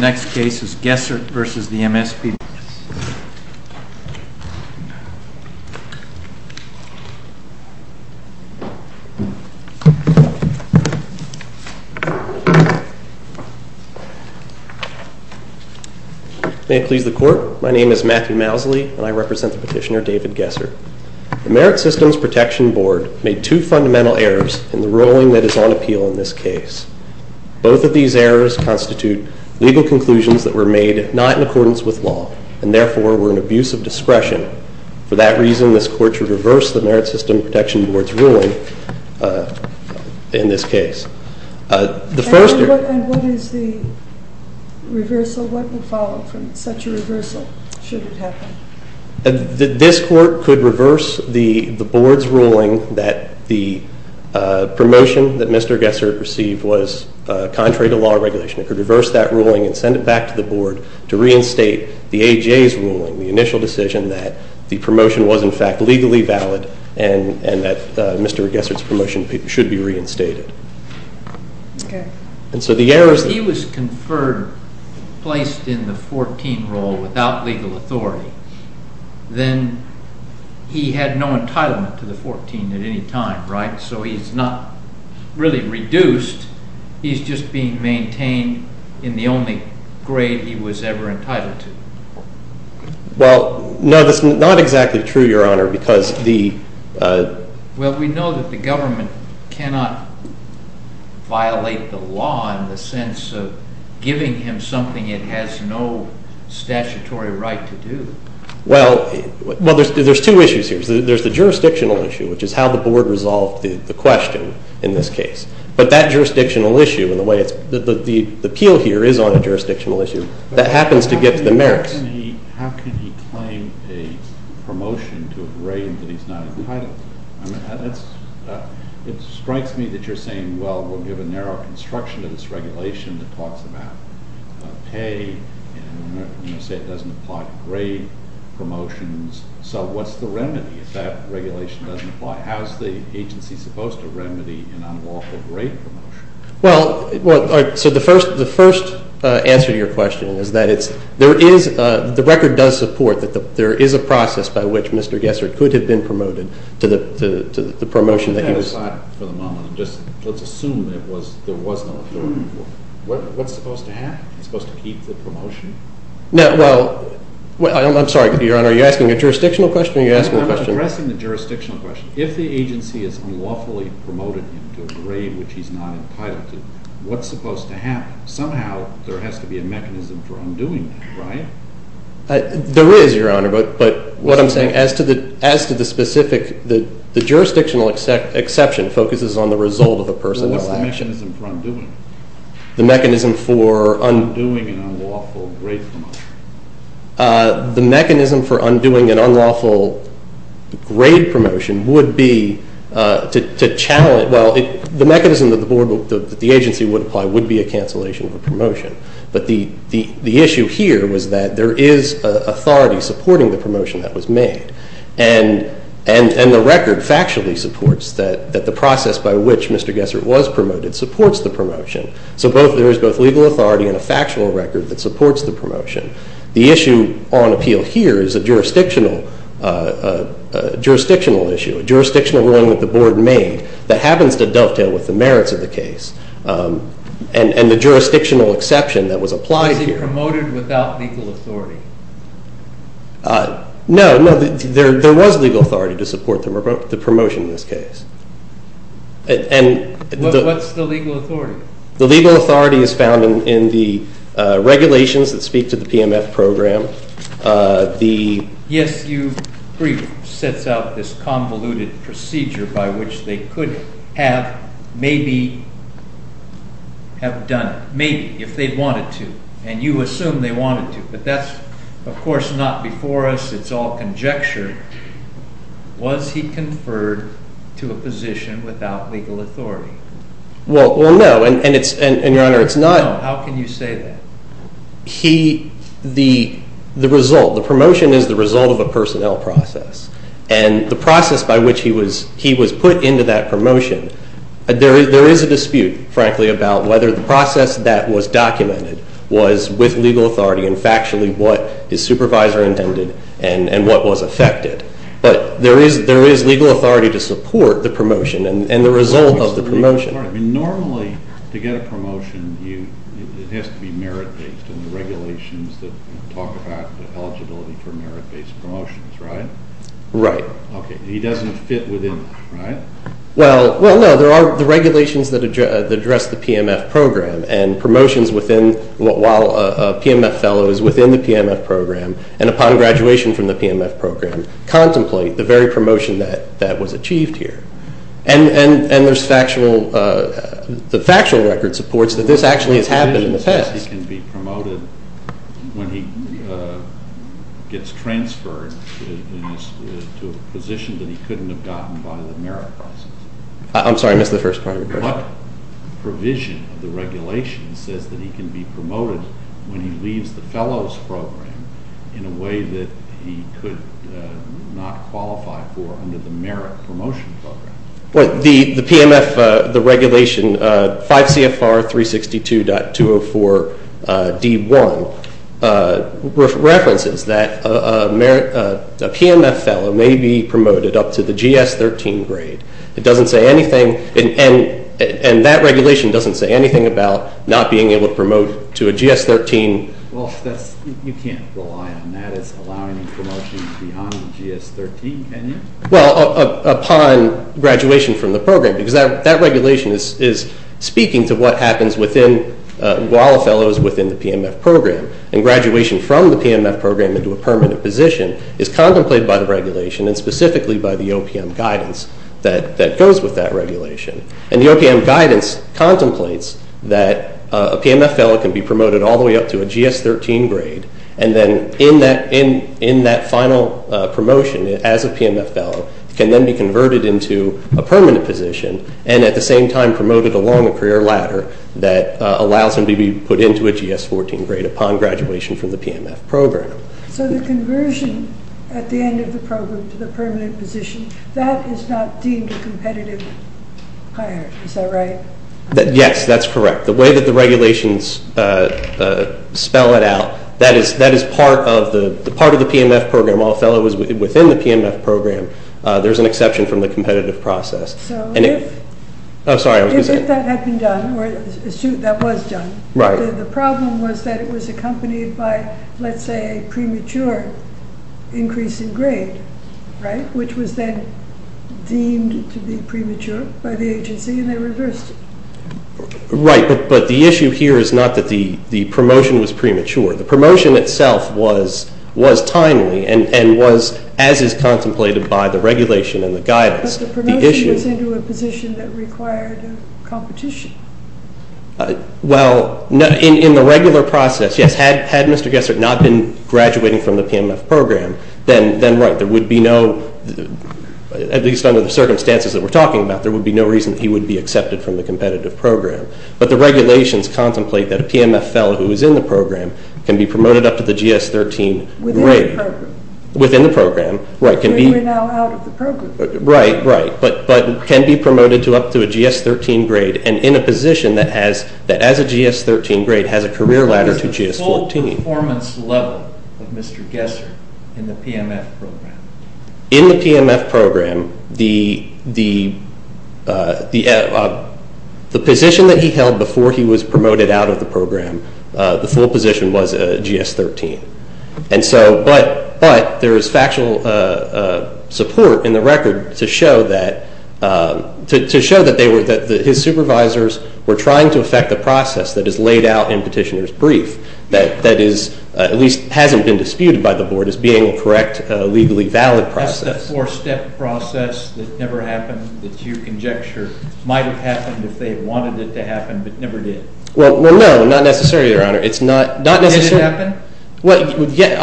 May it please the Court, my name is Matthew Mousley, and I represent the Petitioner David Gessert. The Merit Systems Protection Board made two fundamental errors in the ruling that is on appeal in this case. Both of these errors constitute legal conclusions that were made not in accordance with law and therefore were an abuse of discretion. For that reason, this Court should reverse the Merit Systems Protection Board's ruling in this case. And what is the reversal? What would follow from such a reversal should it happen? This Court could reverse the Board's ruling that the promotion that Mr. Gessert received was contrary to law and regulation. It could reverse that ruling and send it back to the Board to reinstate the AJA's ruling, the initial decision that the promotion was in fact legally valid and that Mr. Gessert's promotion should be reinstated. If he was conferred, placed in the 14th role without legal authority, then he had no entitlement to the 14th at any time, right? So he's not really reduced, he's just being maintained in the only grade he was ever entitled to. Well, no, that's not exactly true, Your Honor, because the… Well, we know that the government cannot violate the law in the sense of giving him something it has no statutory right to do. Well, there's two issues here. There's the jurisdictional issue, which is how the Board resolved the question in this case. But that jurisdictional issue and the way the appeal here is on a jurisdictional issue, that happens to get to the merits. How can he claim a promotion to a grade that he's not entitled to? It strikes me that you're saying, well, we'll give a narrow construction to this regulation that talks about pay and, you know, say it doesn't apply to grade promotions. So what's the remedy if that regulation doesn't apply? How's the agency supposed to remedy an unlawful grade promotion? Well, so the first answer to your question is that it's… There is… The record does support that there is a process by which Mr. Gessert could have been promoted to the promotion that he was… Let's put that aside for the moment and just, let's assume there was no appeal. What's supposed to happen? Is he supposed to keep the promotion? No, well… I'm sorry, Your Honor, are you asking a jurisdictional question or are you asking a question… I'm addressing the jurisdictional question. If the agency has unlawfully promoted him to a grade which he's not entitled to, what's supposed to happen? Somehow there has to be a mechanism for undoing that, right? There is, Your Honor, but what I'm saying, as to the specific, the jurisdictional exception focuses on the result of a personal action. What's the mechanism for undoing it? The mechanism for… Undoing an unlawful grade promotion. The mechanism for undoing an unlawful grade promotion would be to challenge… Well, the mechanism that the agency would apply would be a cancellation of the promotion, but the issue here was that there is authority supporting the promotion that was made, and the record factually supports that the process by which Mr. Gessert was promoted supports the promotion. So there is both legal authority and a factual record that supports the promotion. The issue on appeal here is a jurisdictional issue, a jurisdictional wrong that the Board made that happens to dovetail with the merits of the case, and the jurisdictional exception that was applied here. Was he promoted without legal authority? No, no, there was legal authority to support the promotion in this case. What's the legal authority? The legal authority is found in the regulations that speak to the PMF program. The… Yes, your brief sets out this convoluted procedure by which they could have maybe have done it, maybe, if they wanted to, and you assume they wanted to, but that's, of course, not before us. It's all conjecture. Was he conferred to a position without legal authority? Well, no, and your Honor, it's not… How can you say that? He, the result, the promotion is the result of a personnel process, and the process by which he was put into that promotion, there is a dispute, frankly, about whether the process that was documented was with legal authority and factually what his supervisor intended and what was affected. But there is legal authority to support the promotion and the result of the promotion. Normally, to get a promotion, it has to be merit-based in the regulations that talk about the eligibility for merit-based promotions, right? Right. Okay, he doesn't fit within that, right? Well, no, there are the regulations that address the PMF program, and promotions while a PMF fellow is within the PMF program, and upon graduation from the PMF program, contemplate the very promotion that was achieved here. And there's factual, the factual record supports that this actually has happened in the past. What provision says he can be promoted when he gets transferred to a position that he couldn't have gotten by the merit process? I'm sorry, I missed the first part of your question. What provision of the regulation says that he can be promoted when he leaves the fellows program in a way that he could not qualify for under the merit promotion program? Well, the PMF, the regulation, 5 CFR 362.204 D1, references that a merit, a PMF fellow may be promoted up to the GS 13 grade. It doesn't say anything, and that regulation doesn't say anything about not being able to promote to a GS 13. Well, that's, you can't rely on that as allowing a promotion beyond the GS 13, can you? Well, upon graduation from the program, because that regulation is speaking to what happens within, while a fellow is within the PMF program. And graduation from the PMF program into a permanent position is contemplated by the OPM guidance that goes with that regulation. And the OPM guidance contemplates that a PMF fellow can be promoted all the way up to a GS 13 grade, and then in that final promotion as a PMF fellow can then be converted into a permanent position, and at the same time promoted along a career ladder that allows him to be put into a GS 14 grade upon graduation from the PMF program. So the conversion at the end of the program to the permanent position, that is not deemed a competitive hire, is that right? Yes, that's correct. The way that the regulations spell it out, that is part of the PMF program. While a fellow is within the PMF program, there's an exception from the competitive process. So if... Oh, sorry, I was going to say... If that had been done, or that was done, the problem was that it was accompanied by, let's say, a premature increase in grade, right? Which was then deemed to be premature by the agency, and they reversed it. Right, but the issue here is not that the promotion was premature. The promotion itself was timely and was, as is contemplated by the regulation and the guidance, the issue... But the promotion was into a position that required competition. Well, in the regular process, yes, had Mr. Gessert not been graduating from the PMF program, then right, there would be no, at least under the circumstances that we're talking about, there would be no reason he would be accepted from the competitive program. But the regulations contemplate that a PMF fellow who is in the program can be promoted up to the GS 13 grade... Within the program. Within the program, right, can be... We're now out of the program. Right, right, but can be promoted to up to a GS 13 grade and in a position that as a GS 13 grade has a career ladder to GS 14. What is the full performance level of Mr. Gessert in the PMF program? In the PMF program, the position that he held before he was promoted out of the program, the full position was a GS 13. But there is factual support in the record to show that his supervisors were trying to affect the process that is laid out in petitioner's brief that is, at least hasn't been disputed by the board, as being a correct, legally valid process. That's the four-step process that never happened that you conjecture might have happened if they wanted it to happen, but never did. Well, no, not necessarily, Your Honor. Did it happen? Well, yes,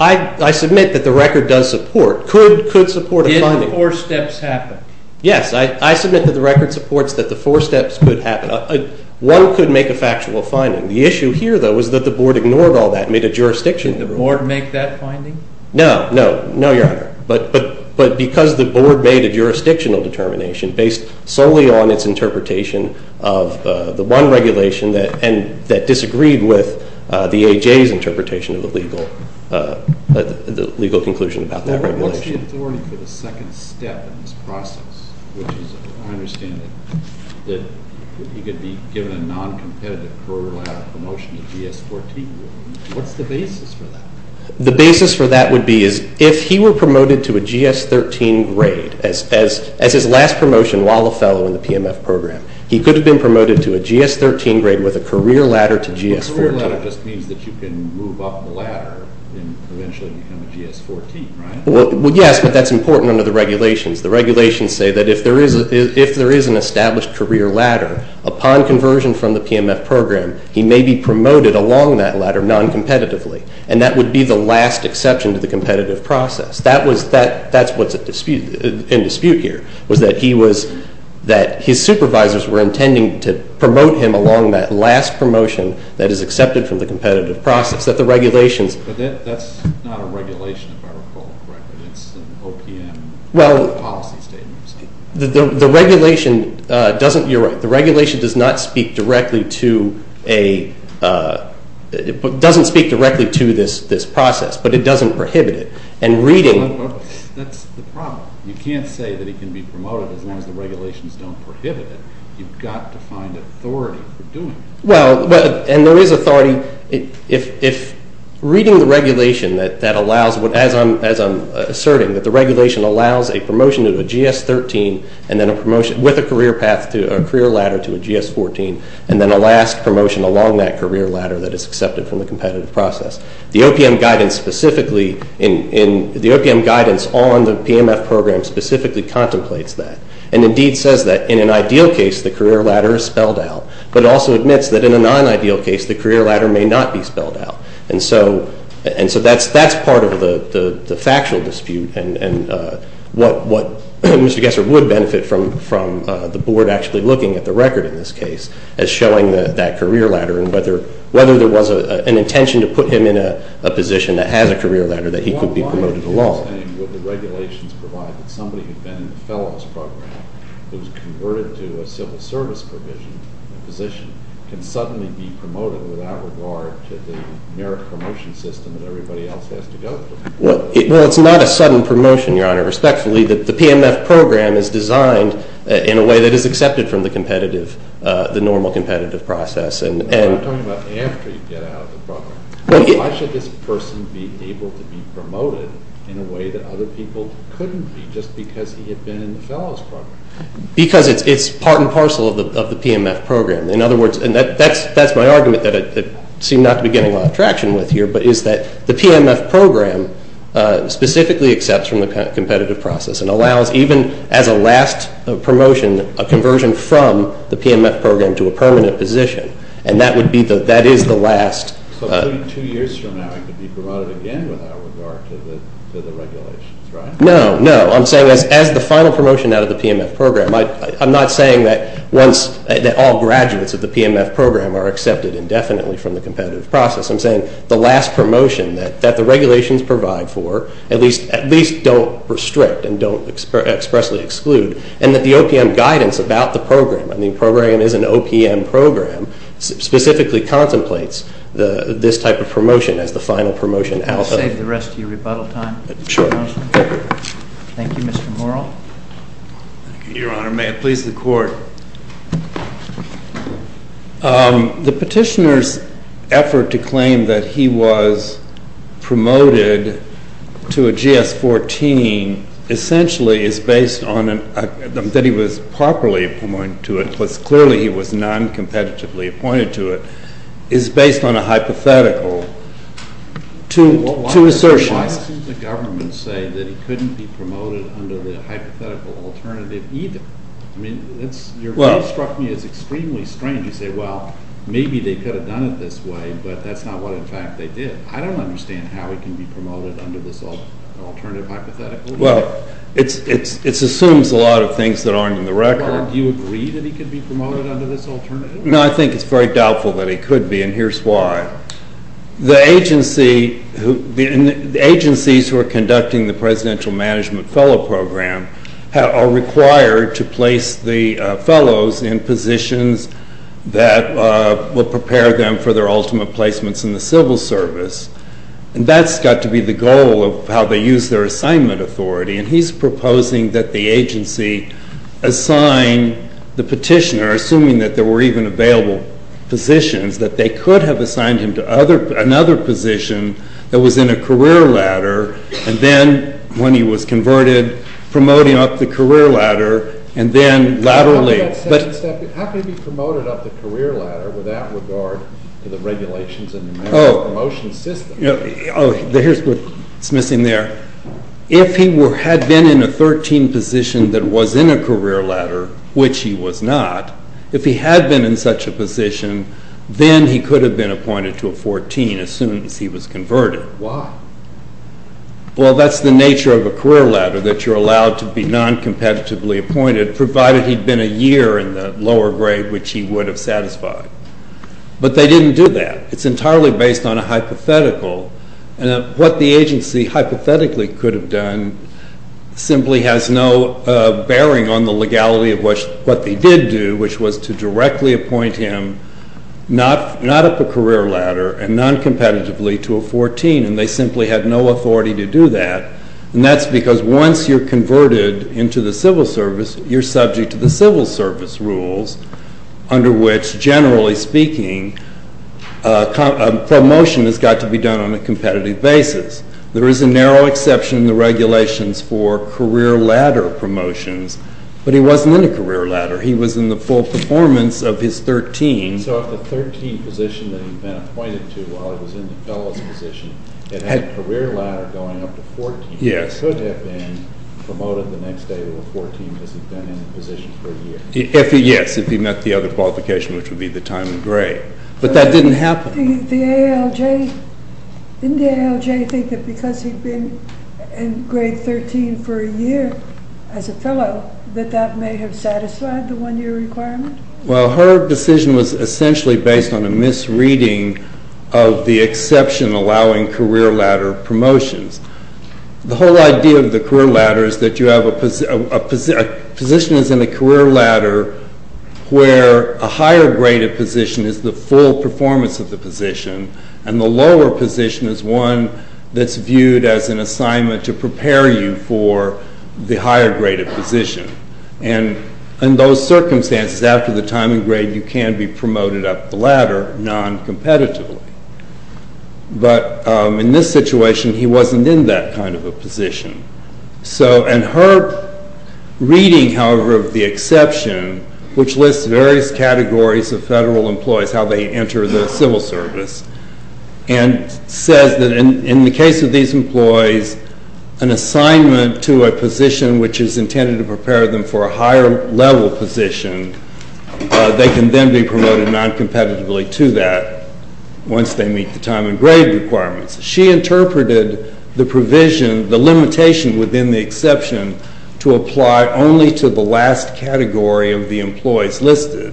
I submit that the record does support, could support a finding. Did the four steps happen? Yes, I submit that the record supports that the four steps could happen. One could make a factual finding. The issue here, though, was that the board ignored all that and made a jurisdictional ruling. Did the board make that finding? No, no, no, Your Honor, but because the board made a jurisdictional determination based solely on its interpretation of the one regulation and that disagreed with the A.J.'s interpretation of the legal conclusion about that regulation. What's the authority for the second step in this process, which is, I understand, that he could be given a non-competitive pro-labor promotion to GS 14. What's the basis for that? The basis for that would be is if he were promoted to a GS 13 grade, as his last promotion while a fellow in the PMF program, he could have been promoted to a GS 13 grade with a career ladder to GS 14. A career ladder just means that you can move up the ladder and eventually become a GS 14, right? Well, yes, but that's important under the regulations. The regulations say that if there is an established career ladder, upon conversion from the PMF program, he may be promoted along that ladder non-competitively, and that would be the last exception to the competitive process. That's what's in dispute here, was that his supervisors were intending to promote him along that last promotion that is accepted from the competitive process. But that's not a regulation, if I recall correctly. It's an OPM policy statement. The regulation doesn't speak directly to this process, but it doesn't prohibit it. That's the problem. You can't say that he can be promoted as long as the regulations don't prohibit it. You've got to find authority for doing it. Well, and there is authority. If reading the regulation that allows, as I'm asserting, that the regulation allows a promotion of a GS 13 and then a promotion with a career ladder to a GS 14, and then a last promotion along that career ladder that is accepted from the competitive process. The OPM guidance on the PMF program specifically contemplates that and indeed says that in an ideal case the career ladder is spelled out, but it also admits that in a non-ideal case the career ladder may not be spelled out. And so that's part of the factual dispute, and what Mr. Gesser would benefit from the board actually looking at the record in this case as showing that career ladder and whether there was an intention to put him in a position that has a career ladder that he could be promoted along. Why are you saying that the regulations provide that somebody who has been in the fellows program who is converted to a civil service provision, a position, can suddenly be promoted without regard to the merit promotion system that everybody else has to go through? The PMF program is designed in a way that is accepted from the normal competitive process. I'm talking about after you get out of the program. Why should this person be able to be promoted in a way that other people couldn't be just because he had been in the fellows program? Because it's part and parcel of the PMF program. In other words, and that's my argument that I seem not to be getting a lot of traction with here, but is that the PMF program specifically accepts from the competitive process and allows even as a last promotion a conversion from the PMF program to a permanent position, and that is the last. So two years from now he could be promoted again without regard to the regulations, right? No, no. I'm saying as the final promotion out of the PMF program. I'm not saying that all graduates of the PMF program are accepted indefinitely from the competitive process. I'm saying the last promotion that the regulations provide for at least don't restrict and don't expressly exclude, and that the OPM guidance about the program, and the program is an OPM program, specifically contemplates this type of promotion as the final promotion out of it. I'll save the rest of your rebuttal time. Sure. Thank you, Mr. Morrell. Thank you, Your Honor. May it please the Court. The petitioner's effort to claim that he was promoted to a GS-14 essentially is based on that he was properly appointed to it, plus clearly he was noncompetitively appointed to it, is based on a hypothetical to assertion. Why doesn't the government say that he couldn't be promoted under the hypothetical alternative either? I mean, your view struck me as extremely strange. You say, well, maybe they could have done it this way, but that's not what, in fact, they did. I don't understand how he can be promoted under this alternative hypothetical. Well, it assumes a lot of things that aren't in the record. Well, do you agree that he could be promoted under this alternative? No, I think it's very doubtful that he could be, and here's why. The agencies who are conducting the Presidential Management Fellow Program are required to place the fellows in positions that will prepare them for their ultimate placements in the civil service, and that's got to be the goal of how they use their assignment authority, and he's proposing that the agency assign the petitioner, assuming that there were even available positions, that they could have assigned him to another position that was in a career ladder, and then when he was converted, promoting up the career ladder, and then laterally. How can he be promoted up the career ladder without regard to the regulations in the National Promotion System? Oh, here's what's missing there. If he had been in a 13 position that was in a career ladder, which he was not, if he had been in such a position, then he could have been appointed to a 14 as soon as he was converted. Why? Well, that's the nature of a career ladder, that you're allowed to be noncompetitively appointed, provided he'd been a year in the lower grade, which he would have satisfied. But they didn't do that. It's entirely based on a hypothetical, and what the agency hypothetically could have done simply has no bearing on the legality of what they did do, which was to directly appoint him, not up a career ladder, and noncompetitively to a 14, and they simply had no authority to do that. And that's because once you're converted into the civil service, you're subject to the civil service rules, under which, generally speaking, a promotion has got to be done on a competitive basis. There is a narrow exception in the regulations for career ladder promotions, but he wasn't in a career ladder. He was in the full performance of his 13. So if the 13 position that he'd been appointed to while he was in the fellows position had had a career ladder going up to 14, he could have been promoted the next day to a 14 because he'd been in the position for a year. Yes, if he met the other qualification, which would be the time of grade. But that didn't happen. Didn't the ALJ think that because he'd been in grade 13 for a year as a fellow, that that may have satisfied the one-year requirement? Well, her decision was essentially based on a misreading of the exception allowing career ladder promotions. The whole idea of the career ladder is that you have a position that's in the career ladder where a higher graded position is the full performance of the position and the lower position is one that's viewed as an assignment to prepare you for the higher graded position. And in those circumstances, after the time of grade, you can be promoted up the ladder non-competitively. But in this situation, he wasn't in that kind of a position. And her reading, however, of the exception, which lists various categories of federal employees, how they enter the civil service, and says that in the case of these employees, an assignment to a position which is intended to prepare them for a higher level position, they can then be promoted non-competitively to that once they meet the time of grade requirements. She interpreted the provision, the limitation within the exception, to apply only to the last category of the employees listed,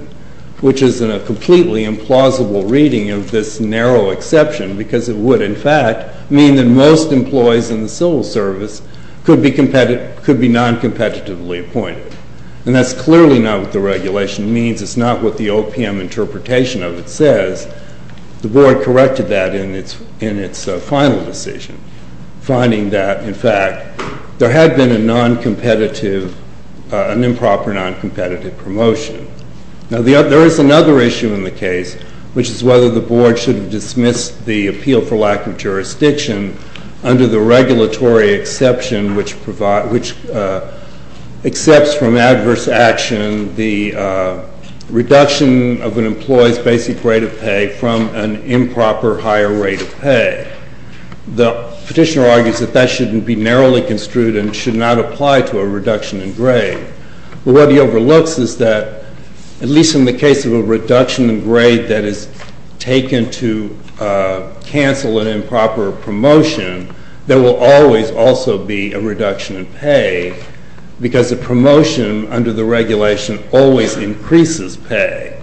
which is a completely implausible reading of this narrow exception because it would, in fact, mean that most employees in the civil service could be non-competitively appointed. And that's clearly not what the regulation means. The board corrected that in its final decision, finding that, in fact, there had been a non-competitive, an improper non-competitive promotion. Now, there is another issue in the case, which is whether the board should have dismissed the appeal for lack of jurisdiction under the regulatory exception which accepts from adverse action the reduction of an employee's basic rate of pay from an improper higher rate of pay. The petitioner argues that that shouldn't be narrowly construed and should not apply to a reduction in grade. But what he overlooks is that, at least in the case of a reduction in grade that is taken to cancel an improper promotion, because a promotion under the regulation always increases pay.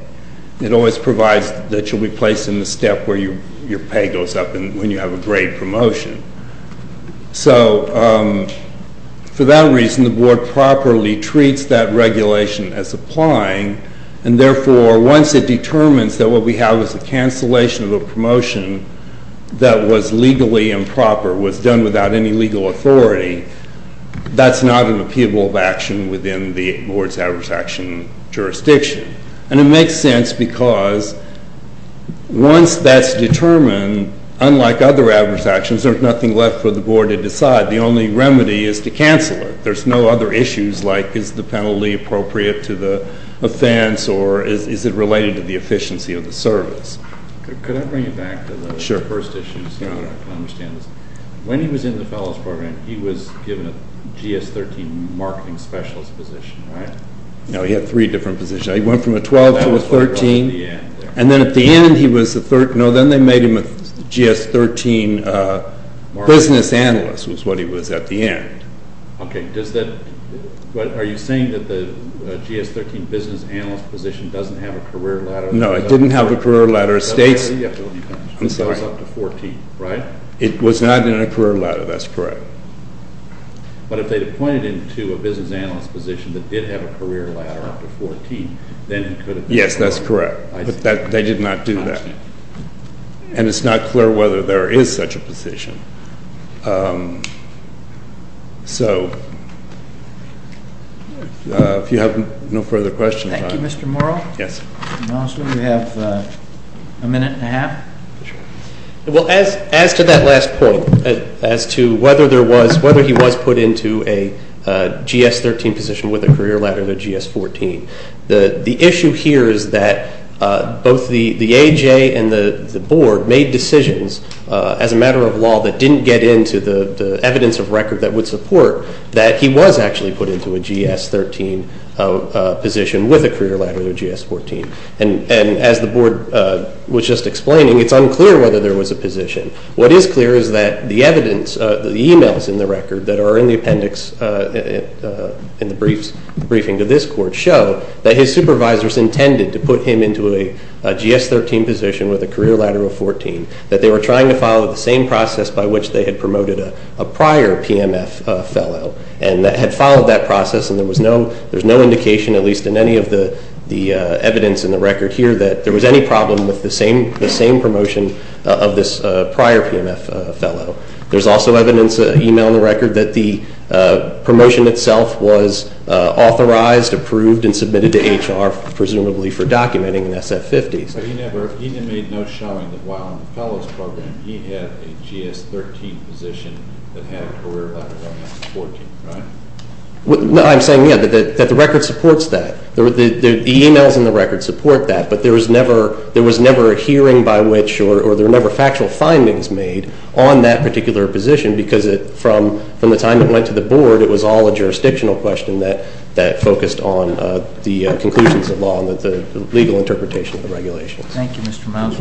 It always provides that you'll be placed in the step where your pay goes up when you have a grade promotion. So, for that reason, the board properly treats that regulation as applying. And, therefore, once it determines that what we have is a cancellation of a promotion that was legally improper, was done without any legal authority, that's not an appealable action within the board's adverse action jurisdiction. And it makes sense because once that's determined, unlike other adverse actions, there's nothing left for the board to decide. The only remedy is to cancel it. There's no other issues like is the penalty appropriate to the offense or is it related to the efficiency of the service. Could I bring you back to the first issue so I can understand this? When he was in the fellows program, he was given a GS-13 marketing specialist position, right? No, he had three different positions. He went from a 12 to a 13. And then at the end, he was the third. No, then they made him a GS-13 business analyst was what he was at the end. Okay. Are you saying that the GS-13 business analyst position doesn't have a career ladder? No, it didn't have a career ladder. It was up to 14, right? It was not in a career ladder. That's correct. But if they had appointed him to a business analyst position that did have a career ladder up to 14, then he could have been awarded. Yes, that's correct. But they did not do that. And it's not clear whether there is such a position. So if you have no further questions. Thank you, Mr. Morrow. Yes. Mr. Malmstrom, you have a minute and a half. Well, as to that last point, as to whether he was put into a GS-13 position with a career ladder or a GS-14, the issue here is that both the AJ and the Board made decisions as a matter of law that didn't get into the evidence of record that would support that he was actually put into a GS-13 position with a career ladder or a GS-14. And as the Board was just explaining, it's unclear whether there was a position. What is clear is that the evidence, the e-mails in the record that are in the appendix in the briefing to this court, show that his supervisors intended to put him into a GS-13 position with a career ladder of 14, that they were trying to follow the same process by which they had promoted a prior PMF fellow and had followed that process and there was no indication, at least in any of the evidence in the record here, that there was any problem with the same promotion of this prior PMF fellow. There's also evidence, e-mail in the record, that the promotion itself was authorized, approved, and submitted to HR, presumably for documenting an SF-50. But he didn't make no showing that while in the fellows program, he had a GS-13 position that had a career ladder of 14, right? I'm saying, yeah, that the record supports that. The e-mails in the record support that, but there was never a hearing by which or there were never factual findings made on that particular position, because from the time it went to the Board, it was all a jurisdictional question that focused on the conclusions of law and the legal interpretation of the regulations. Thank you, Mr. Mouse.